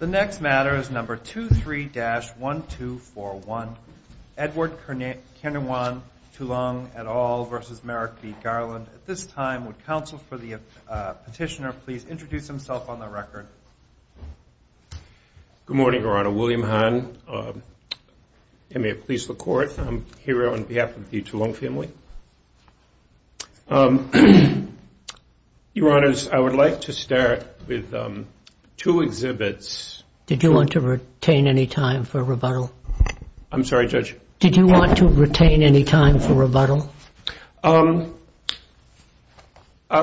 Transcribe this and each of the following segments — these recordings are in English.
The next matter is number 23-1241, Edward Kennewan Tulung et al. v. Merrick v. Garland. At this time, would counsel for the petitioner please introduce himself on the record? Good morning, Your Honor. William Hahn. I'm here on behalf of the Tulung family. Your Honors, I would like to start with two exhibits. Did you want to retain any time for rebuttal? I'm sorry, Judge? Did you want to retain any time for rebuttal? I'll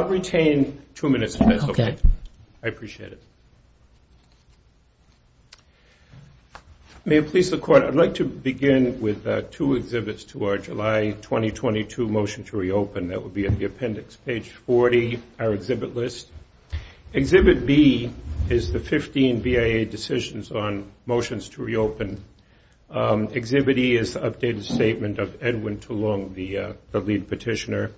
retain two minutes. Okay. I appreciate it. May it please the Court, I'd like to begin with two exhibits to our July 2022 motion to reopen. That would be at the appendix, page 40, our exhibit list. Exhibit B is the 15 BIA decisions on motions to reopen. Exhibit E is the updated statement of Edwin Tulung, the lead petitioner.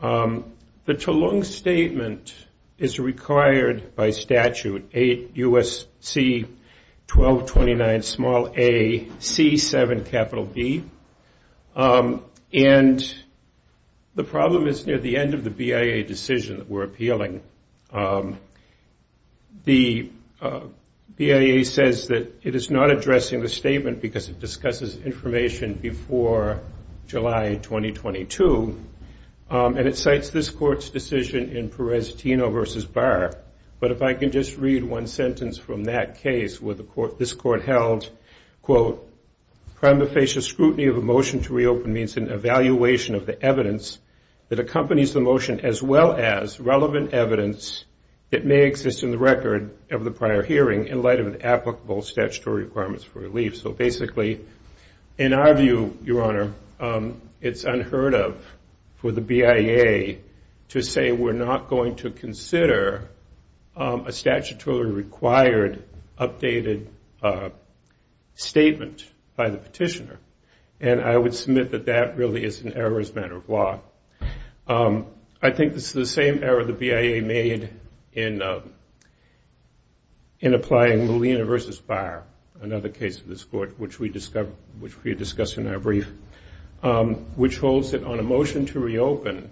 The Tulung statement is required by statute 8 U.S.C. 1229 small a C7 capital B. And the problem is near the end of the BIA decision that we're appealing, the BIA says that it is not addressing the statement because it discusses information before July 2022. And it cites this Court's decision in Perez-Tino v. Barr. But if I can just read one sentence from that case where this Court held, quote, prima facie scrutiny of a motion to reopen means an evaluation of the evidence that accompanies the motion, as well as relevant evidence that may exist in the record of the prior hearing in light of an applicable statutory requirements for relief. So basically, in our view, Your Honor, it's unheard of for the BIA to say we're not going to consider a statutorily required updated statement by the petitioner. And I would submit that that really is an error as a matter of law. I think this is the same error the BIA made in applying Molina v. Barr, another case of this Court, which we discussed in our brief, which holds that on a motion to reopen,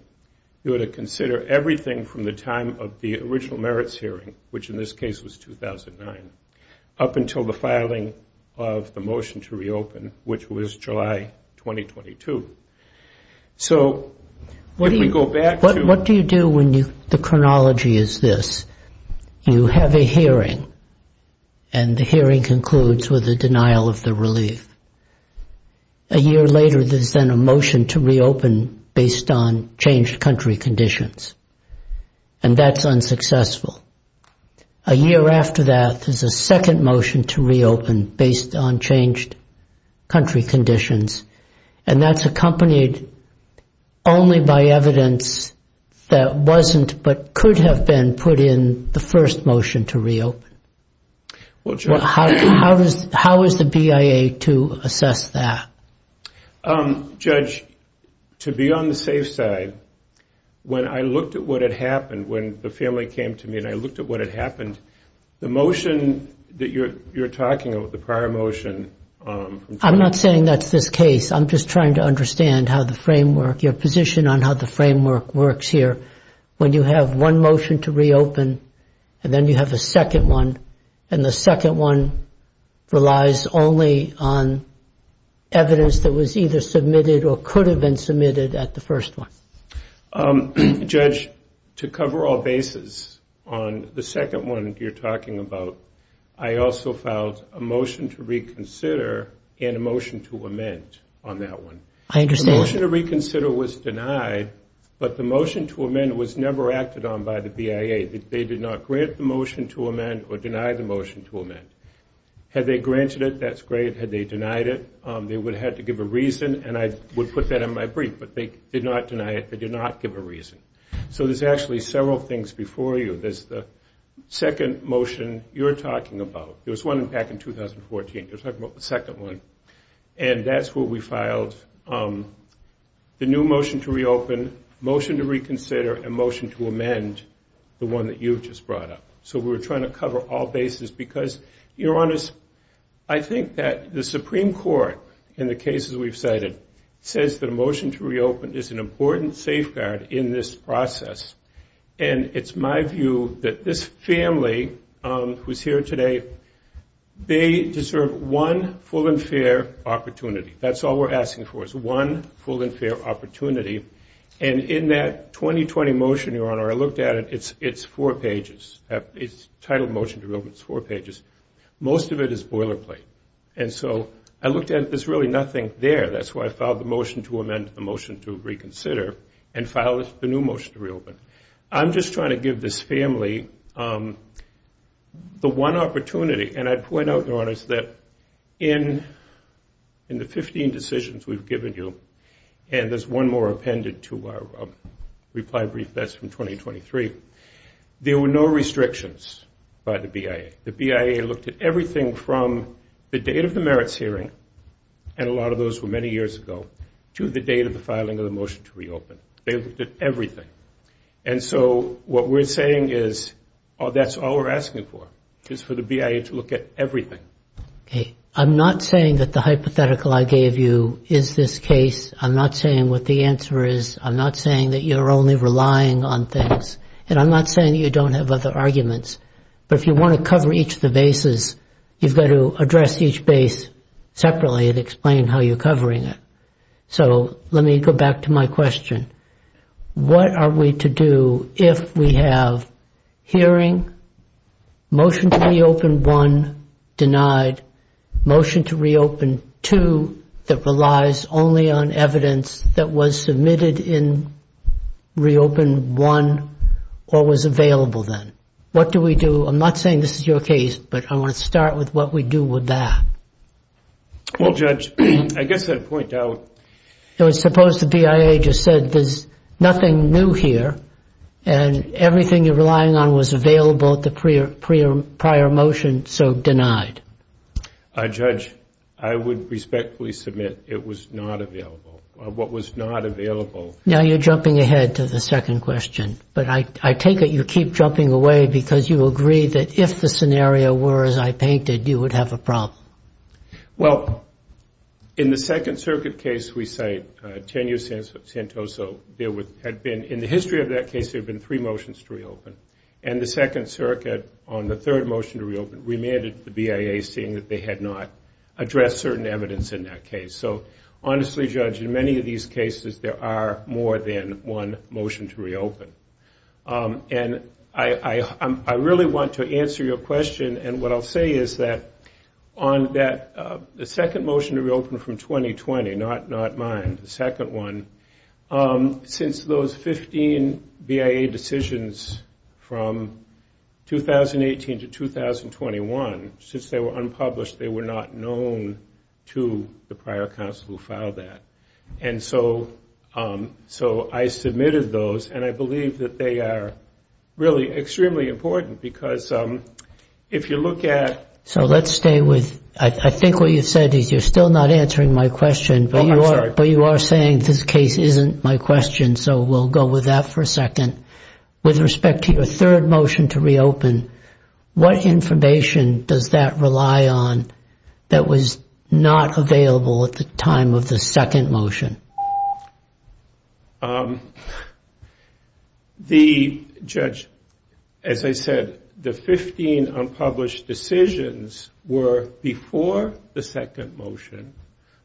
you ought to consider everything from the time of the original merits hearing, which in this case was 2009, up until the filing of the motion to reopen, which was July 2022. So what do we go back to? What do you do when the chronology is this? You have a hearing, and the hearing concludes with a denial of the relief. A year later, there's then a motion to reopen based on changed country conditions, and that's unsuccessful. A year after that, there's a second motion to reopen based on changed country conditions, and that's accompanied only by evidence that wasn't but could have been put in the first motion to reopen. How is the BIA to assess that? Judge, to be on the safe side, when I looked at what had happened, when the family came to me and I looked at what had happened, the motion that you're talking about, the prior motion. I'm not saying that's this case. I'm just trying to understand how the framework, your position on how the framework works here. When you have one motion to reopen, and then you have a second one, and the second one relies only on evidence that was either submitted or could have been submitted at the first one. Judge, to cover all bases on the second one that you're talking about, I also filed a motion to reconsider and a motion to amend on that one. I understand. The motion to reconsider was denied, but the motion to amend was never acted on by the BIA. They did not grant the motion to amend or deny the motion to amend. Had they granted it, that's great. Had they denied it, they would have had to give a reason, and I would put that in my brief, but they did not deny it. They did not give a reason. So there's actually several things before you. There's the second motion you're talking about. There was one back in 2014. You're talking about the second one, and that's where we filed the new motion to reopen, motion to reconsider, and motion to amend, the one that you just brought up. So we were trying to cover all bases because, Your Honors, I think that the Supreme Court, in the cases we've cited, says that a motion to reopen is an important safeguard in this process, and it's my view that this family who's here today, they deserve one full and fair opportunity. That's all we're asking for is one full and fair opportunity, and in that 2020 motion, Your Honor, I looked at it, it's four pages. It's titled motion to reopen. It's four pages. Most of it is boilerplate, and so I looked at it, there's really nothing there. That's why I filed the motion to amend the motion to reconsider and filed the new motion to reopen. I'm just trying to give this family the one opportunity, and I point out, Your Honors, that in the 15 decisions we've given you, and there's one more appended to our reply brief that's from 2023, there were no restrictions by the BIA. The BIA looked at everything from the date of the merits hearing, and a lot of those were many years ago, to the date of the filing of the motion to reopen. They looked at everything. And so what we're saying is that's all we're asking for is for the BIA to look at everything. Okay. I'm not saying that the hypothetical I gave you is this case. I'm not saying what the answer is. I'm not saying that you're only relying on things, and I'm not saying that you don't have other arguments, but if you want to cover each of the bases, you've got to address each base separately and explain how you're covering it. So let me go back to my question. What are we to do if we have hearing, motion to reopen one denied, motion to reopen two that relies only on evidence that was submitted in reopen one or was available then? What do we do? I'm not saying this is your case, but I want to start with what we do with that. Well, Judge, I guess I'd point out. Suppose the BIA just said there's nothing new here and everything you're relying on was available at the prior motion, so denied. Judge, I would respectfully submit it was not available, or what was not available. Now you're jumping ahead to the second question, but I take it you keep jumping away because you agree that if the scenario were as I painted, you would have a problem. Well, in the Second Circuit case we cite, Tenu Santoso, there had been, in the history of that case, there had been three motions to reopen, and the Second Circuit, on the third motion to reopen, remanded the BIA seeing that they had not addressed certain evidence in that case. So honestly, Judge, in many of these cases there are more than one motion to reopen. And I really want to answer your question, and what I'll say is that on the second motion to reopen from 2020, not mine, the second one, since those 15 BIA decisions from 2018 to 2021, since they were unpublished, they were not known to the prior counsel who filed that. And so I submitted those, and I believe that they are really extremely important, because if you look at... So let's stay with, I think what you said is you're still not answering my question, but you are saying this case isn't my question, so we'll go with that for a second. With respect to your third motion to reopen, what information does that rely on that was not available at the time of the second motion? The, Judge, as I said, the 15 unpublished decisions were before the second motion.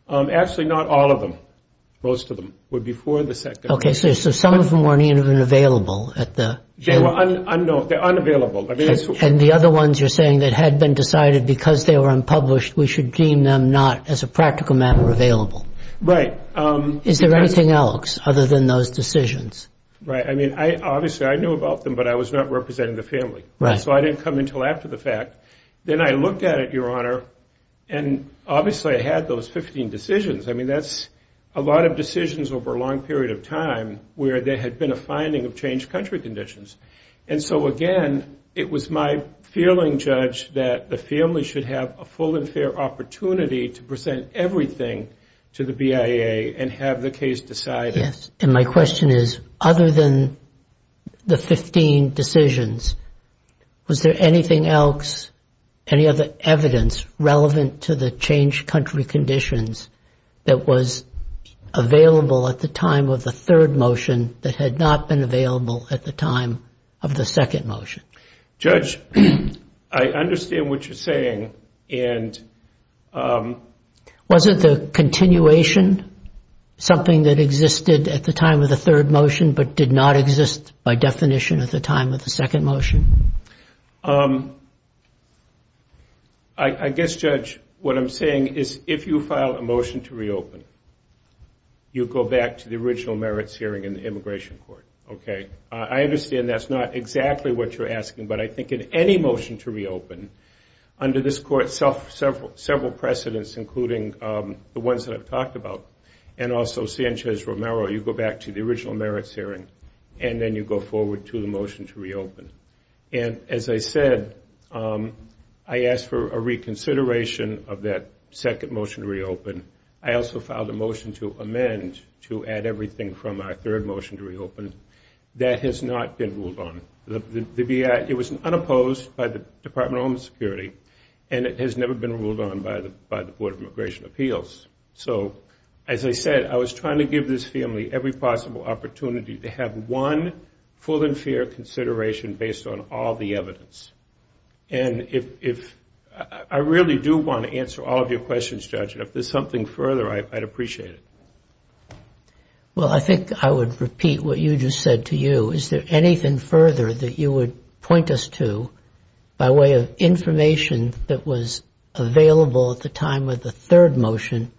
Actually, not all of them. Most of them were before the second motion. Okay, so some of them weren't even available at the... They were unknown, they're unavailable. And the other ones you're saying that had been decided because they were unpublished, we should deem them not as a practical matter available. Right. Is there anything else other than those decisions? Right, I mean, obviously I knew about them, but I was not representing the family. So I didn't come in until after the fact. Then I looked at it, Your Honor, and obviously I had those 15 decisions. I mean, that's a lot of decisions over a long period of time where there had been a finding of changed country conditions. And so, again, it was my feeling, Judge, that the family should have a full and fair opportunity to present everything to the BIA and have the case decided. Yes, and my question is, other than the 15 decisions, was there anything else, any other evidence relevant to the changed country conditions that was available at the time of the third motion that had not been available at the time of the second motion? Judge, I understand what you're saying and... Was it the continuation, something that existed at the time of the third motion but did not exist by definition at the time of the second motion? I guess, Judge, what I'm saying is if you file a motion to reopen, you go back to the original merits hearing in the Immigration Court, okay? I understand that's not exactly what you're asking, but I think in any motion to reopen, under this Court, several precedents, including the ones that I've talked about, and also Sanchez-Romero, you go back to the original merits hearing and then you go forward to the motion to reopen. And as I said, I asked for a reconsideration of that second motion to reopen. I also filed a motion to amend to add everything from our third motion to reopen that has not been ruled on. The BIA, it was unopposed by the Department of Homeland Security and it has never been ruled on by the Board of Immigration Appeals. So, as I said, I was trying to give this family every possible opportunity to have one full and fair consideration based on all the evidence. And I really do want to answer all of your questions, Judge, and if there's something further, I'd appreciate it. Well, I think I would repeat what you just said to you. Is there anything further that you would point us to by way of information that was available at the time of the third motion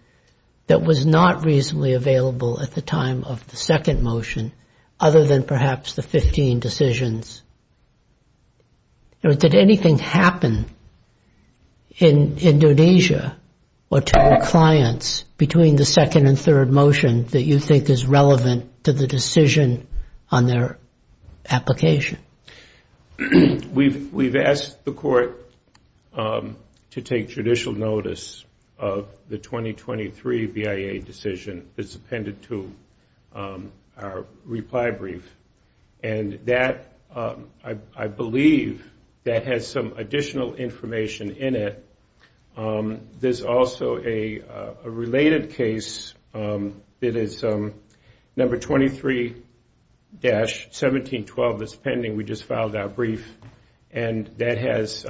that was not reasonably available at the time of the second motion other than perhaps the 15 decisions? Did anything happen in Indonesia or to your clients between the second and third motion that you think is relevant to the decision on their application? We've asked the court to take judicial notice of the 2023 BIA decision that's appended to our reply brief. And that, I believe, that has some additional information in it. There's also a related case that is number 23-1712 that's pending. We just filed our brief, and that has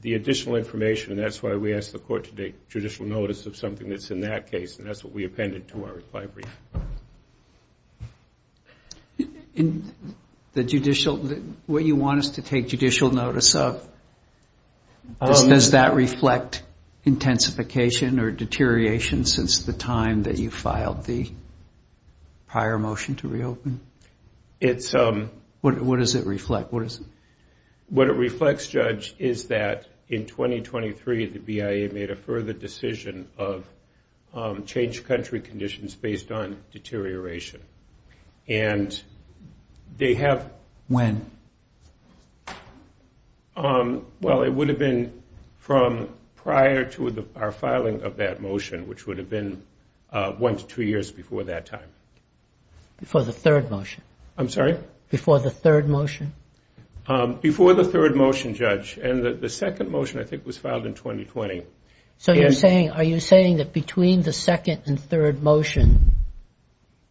the additional information, and that's why we asked the court to take judicial notice of something that's in that case, and that's what we appended to our reply brief. What you want us to take judicial notice of, does that reflect intensification or deterioration since the time that you filed the prior motion to reopen? What does it reflect? What it reflects, Judge, is that in 2023 the BIA made a further decision of changed country conditions based on deterioration. When? Well, it would have been from prior to our filing of that motion, which would have been one to two years before that time. Before the third motion? I'm sorry? Before the third motion? Before the third motion, Judge. And the second motion, I think, was filed in 2020. So are you saying that between the second and third motion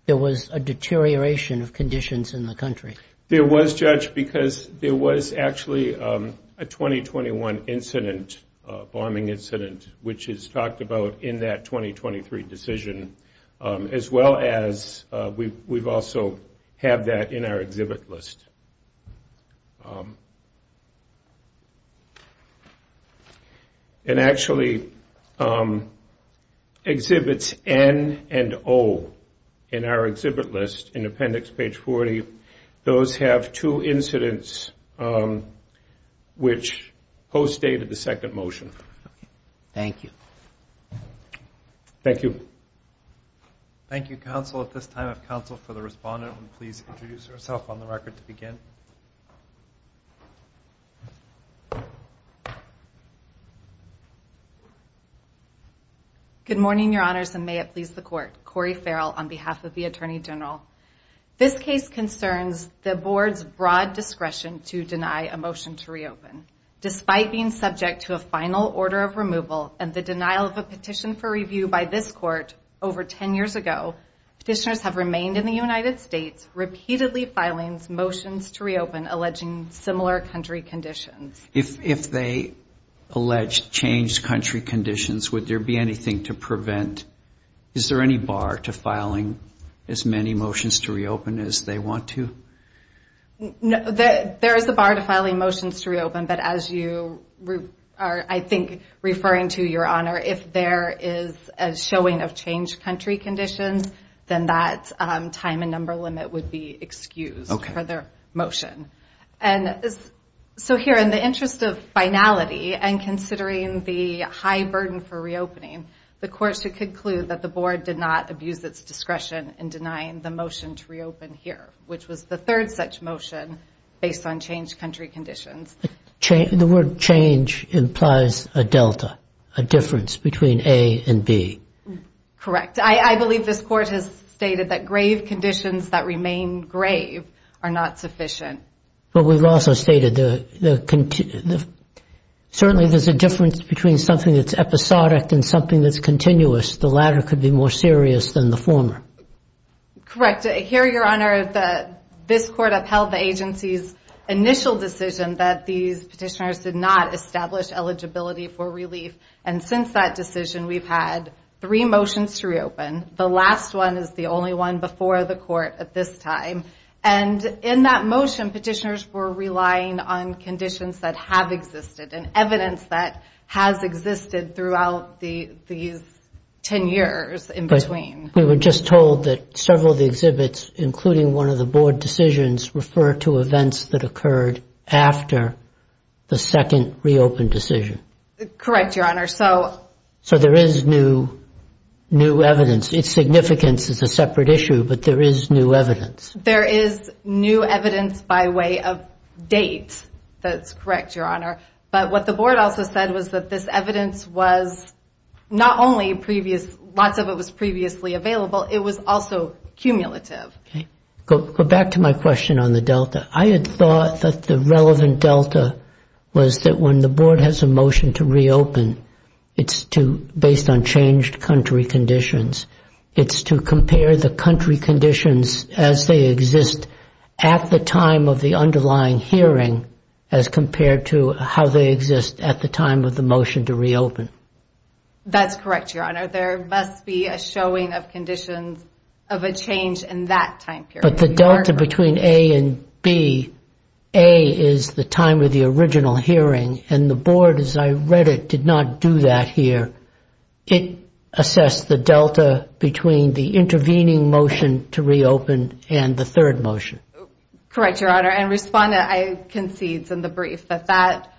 there was a deterioration of conditions in the country? There was, Judge, because there was actually a 2021 incident, a bombing incident, which is talked about in that 2023 decision, as well as we also have that in our exhibit list. It actually exhibits N and O in our exhibit list in appendix page 40. Those have two incidents which post-dated the second motion. Thank you. Thank you. Thank you, counsel. At this time, I have counsel for the respondent. Please introduce yourself on the record to begin. Good morning, Your Honors, and may it please the Court. Cori Farrell on behalf of the Attorney General. This case concerns the Board's broad discretion to deny a motion to reopen. Despite being subject to a final order of removal and the denial of a petition for review by this Court over 10 years ago, petitioners have remained in the United States, repeatedly filing motions to reopen alleging similar country conditions. If they allege changed country conditions, would there be anything to prevent? Is there any bar to filing as many motions to reopen as they want to? There is a bar to filing motions to reopen, but as you are, I think, referring to, Your Honor, if there is a showing of changed country conditions, then that time and number limit would be excused for their motion. So here, in the interest of finality and considering the high burden for reopening, the Court should conclude that the Board did not abuse its discretion in denying the motion to reopen here, which was the third such motion based on changed country conditions. The word change implies a delta, a difference between A and B. Correct. I believe this Court has stated that grave conditions that remain grave are not sufficient. But we've also stated certainly there's a difference between something that's episodic and something that's continuous. The latter could be more serious than the former. Correct. Here, Your Honor, this Court upheld the agency's initial decision that these petitioners did not establish eligibility for relief. And since that decision, we've had three motions to reopen. The last one is the only one before the Court at this time. And in that motion, petitioners were relying on conditions that have existed and evidence that has existed throughout these ten years in between. We were just told that several of the exhibits, including one of the Board decisions, refer to events that occurred after the second reopened decision. Correct, Your Honor. So there is new evidence. Its significance is a separate issue, but there is new evidence. There is new evidence by way of date. That's correct, Your Honor. But what the Board also said was that this evidence was not only previous, lots of it was previously available, it was also cumulative. Go back to my question on the Delta. I had thought that the relevant Delta was that when the Board has a motion to reopen, it's based on changed country conditions. It's to compare the country conditions as they exist at the time of the underlying hearing as compared to how they exist at the time of the motion to reopen. That's correct, Your Honor. There must be a showing of conditions of a change in that time period. But the Delta between A and B, A is the time of the original hearing, and the Board, as I read it, did not do that here. It assessed the Delta between the intervening motion to reopen and the third motion. Correct, Your Honor, and Respondent concedes in the brief that that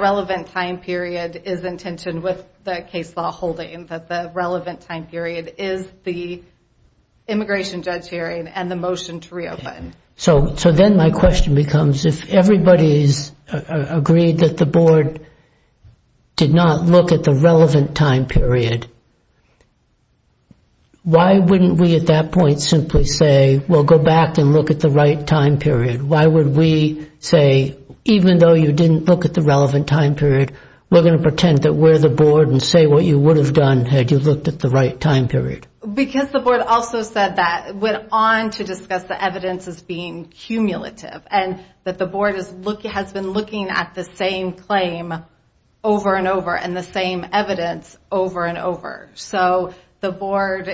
relevant time period is intentioned with the case law holding, that the relevant time period is the immigration judge hearing and the motion to reopen. So then my question becomes, if everybody's agreed that the Board did not look at the relevant time period, why wouldn't we at that point simply say, well, go back and look at the right time period? Why would we say, even though you didn't look at the relevant time period, we're going to pretend that we're the Board and say what you would have done had you looked at the right time period? Because the Board also said that, went on to discuss the evidence as being cumulative and that the Board has been looking at the same claim over and over and the same evidence over and over. So the Board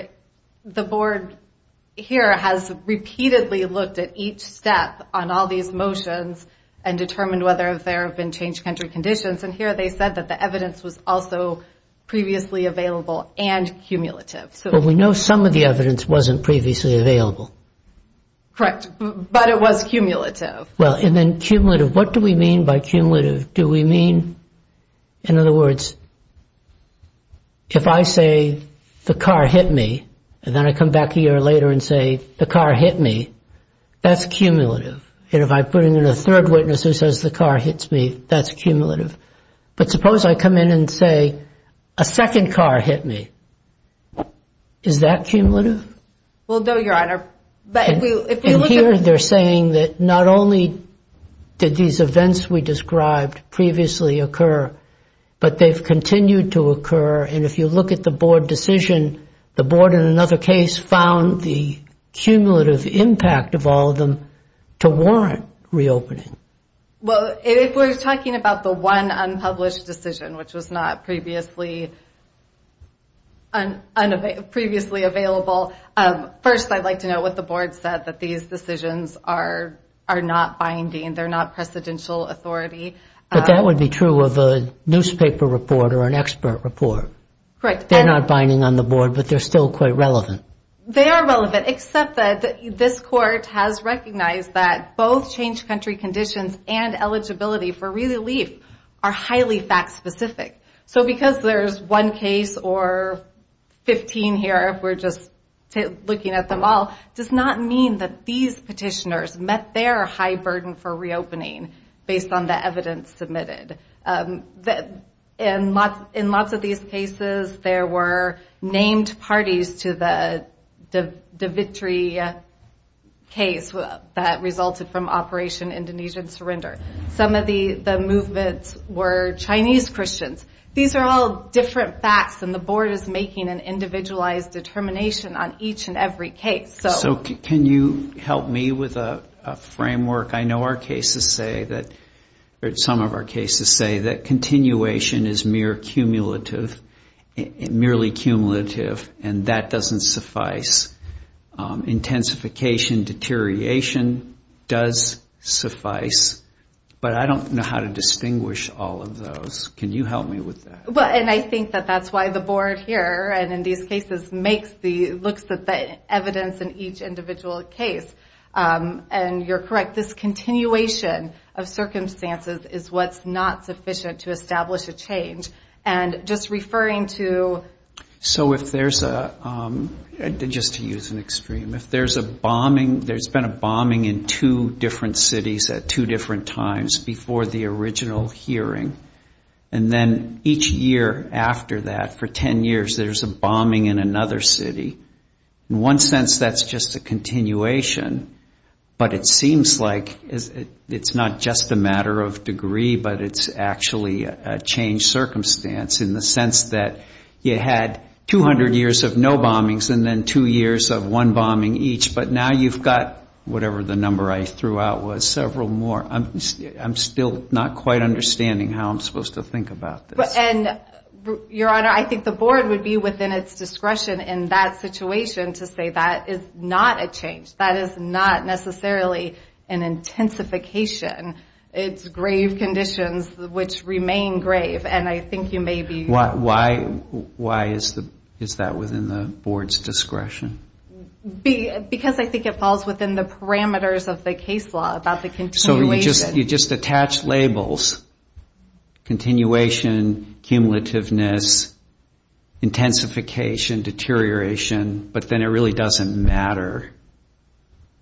here has repeatedly looked at each step on all these motions and determined whether there have been changed country conditions, and here they said that the evidence was also previously available and cumulative. But we know some of the evidence wasn't previously available. Correct, but it was cumulative. Well, and then cumulative, what do we mean by cumulative? Do we mean, in other words, if I say the car hit me and then I come back a year later and say the car hit me, that's cumulative. And if I bring in a third witness who says the car hits me, that's cumulative. But suppose I come in and say a second car hit me. Is that cumulative? Well, no, Your Honor. And here they're saying that not only did these events we described previously occur, but they've continued to occur, and if you look at the Board decision, the Board in another case found the cumulative impact of all of them to warrant reopening. Well, if we're talking about the one unpublished decision, which was not previously available, first I'd like to know what the Board said that these decisions are not binding, they're not precedential authority. But that would be true of a newspaper report or an expert report. Correct. They're not binding on the Board, but they're still quite relevant. They are relevant, except that this Court has recognized that both changed country conditions and eligibility for relief are highly fact-specific. So because there's one case or 15 here, if we're just looking at them all, does not mean that these petitioners met their high burden for reopening, based on the evidence submitted. In lots of these cases, there were named parties to the Davitri case that resulted from Operation Indonesian Surrender. Some of the movements were Chinese Christians. These are all different facts, and the Board is making an individualized determination on each and every case. So can you help me with a framework? I know our cases say that continuation is merely cumulative, and that doesn't suffice. Intensification, deterioration does suffice. But I don't know how to distinguish all of those. Can you help me with that? And I think that that's why the Board here, and in these cases, looks at the evidence in each individual case. And you're correct. This continuation of circumstances is what's not sufficient to establish a change. And just referring to... So if there's a, just to use an extreme, if there's a bombing, there's been a bombing in two different cities at two different times before the original hearing, and then each year after that, for 10 years, there's a bombing in another city, in one sense that's just a continuation, but it seems like it's not just a matter of degree, but it's actually a changed circumstance, in the sense that you had 200 years of no bombings, and then two years of one bombing each, but now you've got whatever the number I threw out was, several more. I'm still not quite understanding how I'm supposed to think about this. And, Your Honor, I think the Board would be within its discretion in that situation to say that is not a change. That is not necessarily an intensification. It's grave conditions which remain grave, and I think you may be... Why is that within the Board's discretion? Because I think it falls within the parameters of the case law about the continuation. So you just attach labels, continuation, cumulativeness, intensification, deterioration, but then it really doesn't matter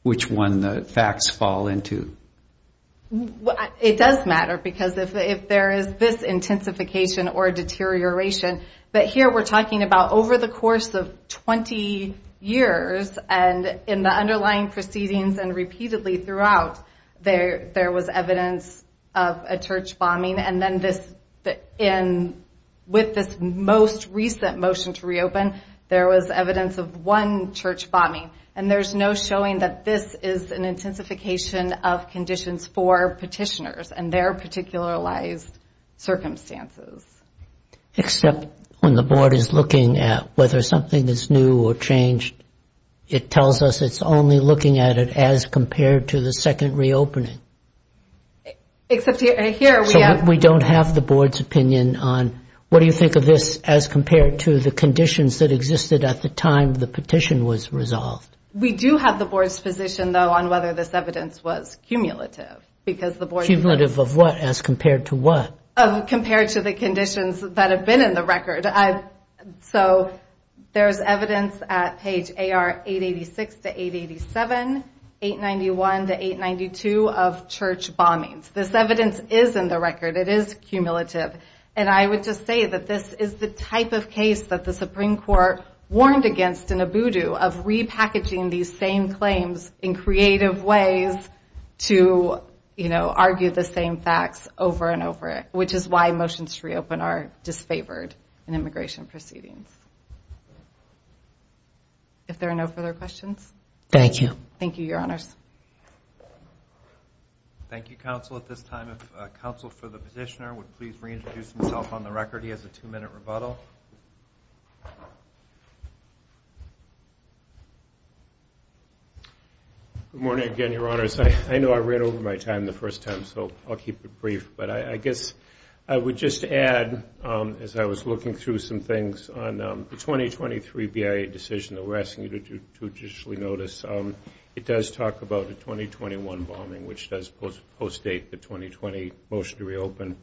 which one the facts fall into. It does matter, because if there is this intensification or deterioration, but here we're talking about over the course of 20 years, and in the underlying proceedings and repeatedly throughout, there was evidence of a church bombing, and then with this most recent motion to reopen, there was evidence of one church bombing, and there's no showing that this is an intensification of conditions for petitioners and their particularized circumstances. Except when the Board is looking at whether something is new or changed, it tells us it's only looking at it as compared to the second reopening. Except here we have... So we don't have the Board's opinion on what do you think of this as compared to the conditions that existed at the time the petition was resolved? We do have the Board's position, though, on whether this evidence was cumulative, because the Board... Cumulative of what as compared to what? Compared to the conditions that have been in the record. So there's evidence at page AR886-887, 891-892 of church bombings. This evidence is in the record. It is cumulative. And I would just say that this is the type of case that the Supreme Court warned against in a voodoo of repackaging these same claims in creative ways to argue the same facts over and over, which is why motions to reopen are disfavored in immigration proceedings. If there are no further questions. Thank you. Thank you, Your Honors. Thank you, Counsel. At this time, if Counsel for the petitioner would please reintroduce himself on the record. He has a two-minute rebuttal. Good morning again, Your Honors. I know I ran over my time the first time, so I'll keep it brief. But I guess I would just add, as I was looking through some things, on the 2023 BIA decision that we're asking you to judicially notice, it does talk about a 2021 bombing, which does post-date the 2020 motion to reopen.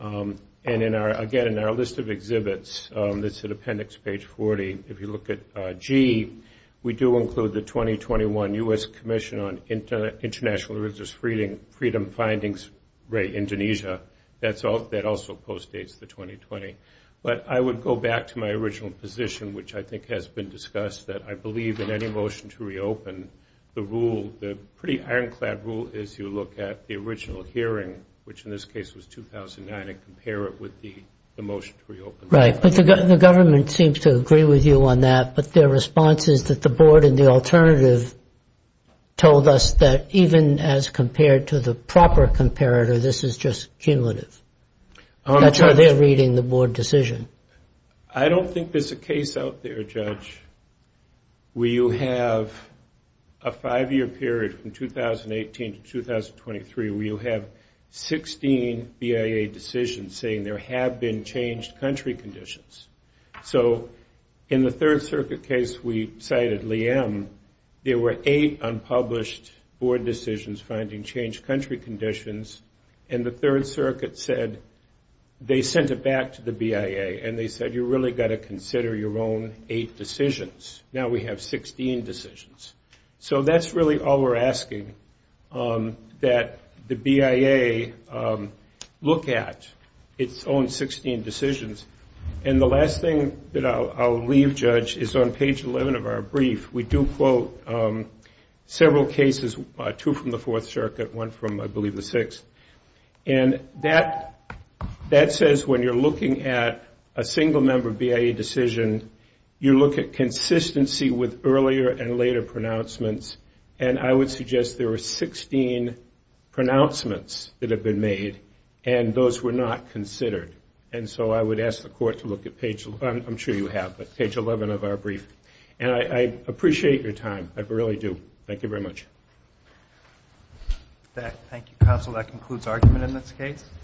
And, again, in our list of exhibits, that's in appendix page 40, if you look at G, we do include the 2021 U.S. Commission on International Religious Freedom Findings, Indonesia. That also post-dates the 2020. But I would go back to my original position, which I think has been discussed, that I believe in any motion to reopen, the rule, the pretty ironclad rule, is you look at the original hearing, which in this case was 2009, and compare it with the motion to reopen. Right. But the government seems to agree with you on that. But their response is that the board in the alternative told us that even as compared to the proper comparator, this is just cumulative. That's how they're reading the board decision. I don't think there's a case out there, Judge, where you have a five-year period from 2018 to 2023, where you have 16 BIA decisions saying there have been changed country conditions. So in the Third Circuit case we cited, Liem, there were eight unpublished board decisions finding changed country conditions. And the Third Circuit said they sent it back to the BIA, and they said you really got to consider your own eight decisions. Now we have 16 decisions. So that's really all we're asking, that the BIA look at its own 16 decisions. And the last thing that I'll leave, Judge, is on page 11 of our brief. We do quote several cases, two from the Fourth Circuit, one from, I believe, the Sixth. And that says when you're looking at a single-member BIA decision, you look at consistency with earlier and later pronouncements. And I would suggest there are 16 pronouncements that have been made, and those were not considered. And so I would ask the Court to look at page 11. I'm sure you have, but page 11 of our brief. And I appreciate your time. I really do. Thank you very much. Thank you, counsel. That concludes argument in this case.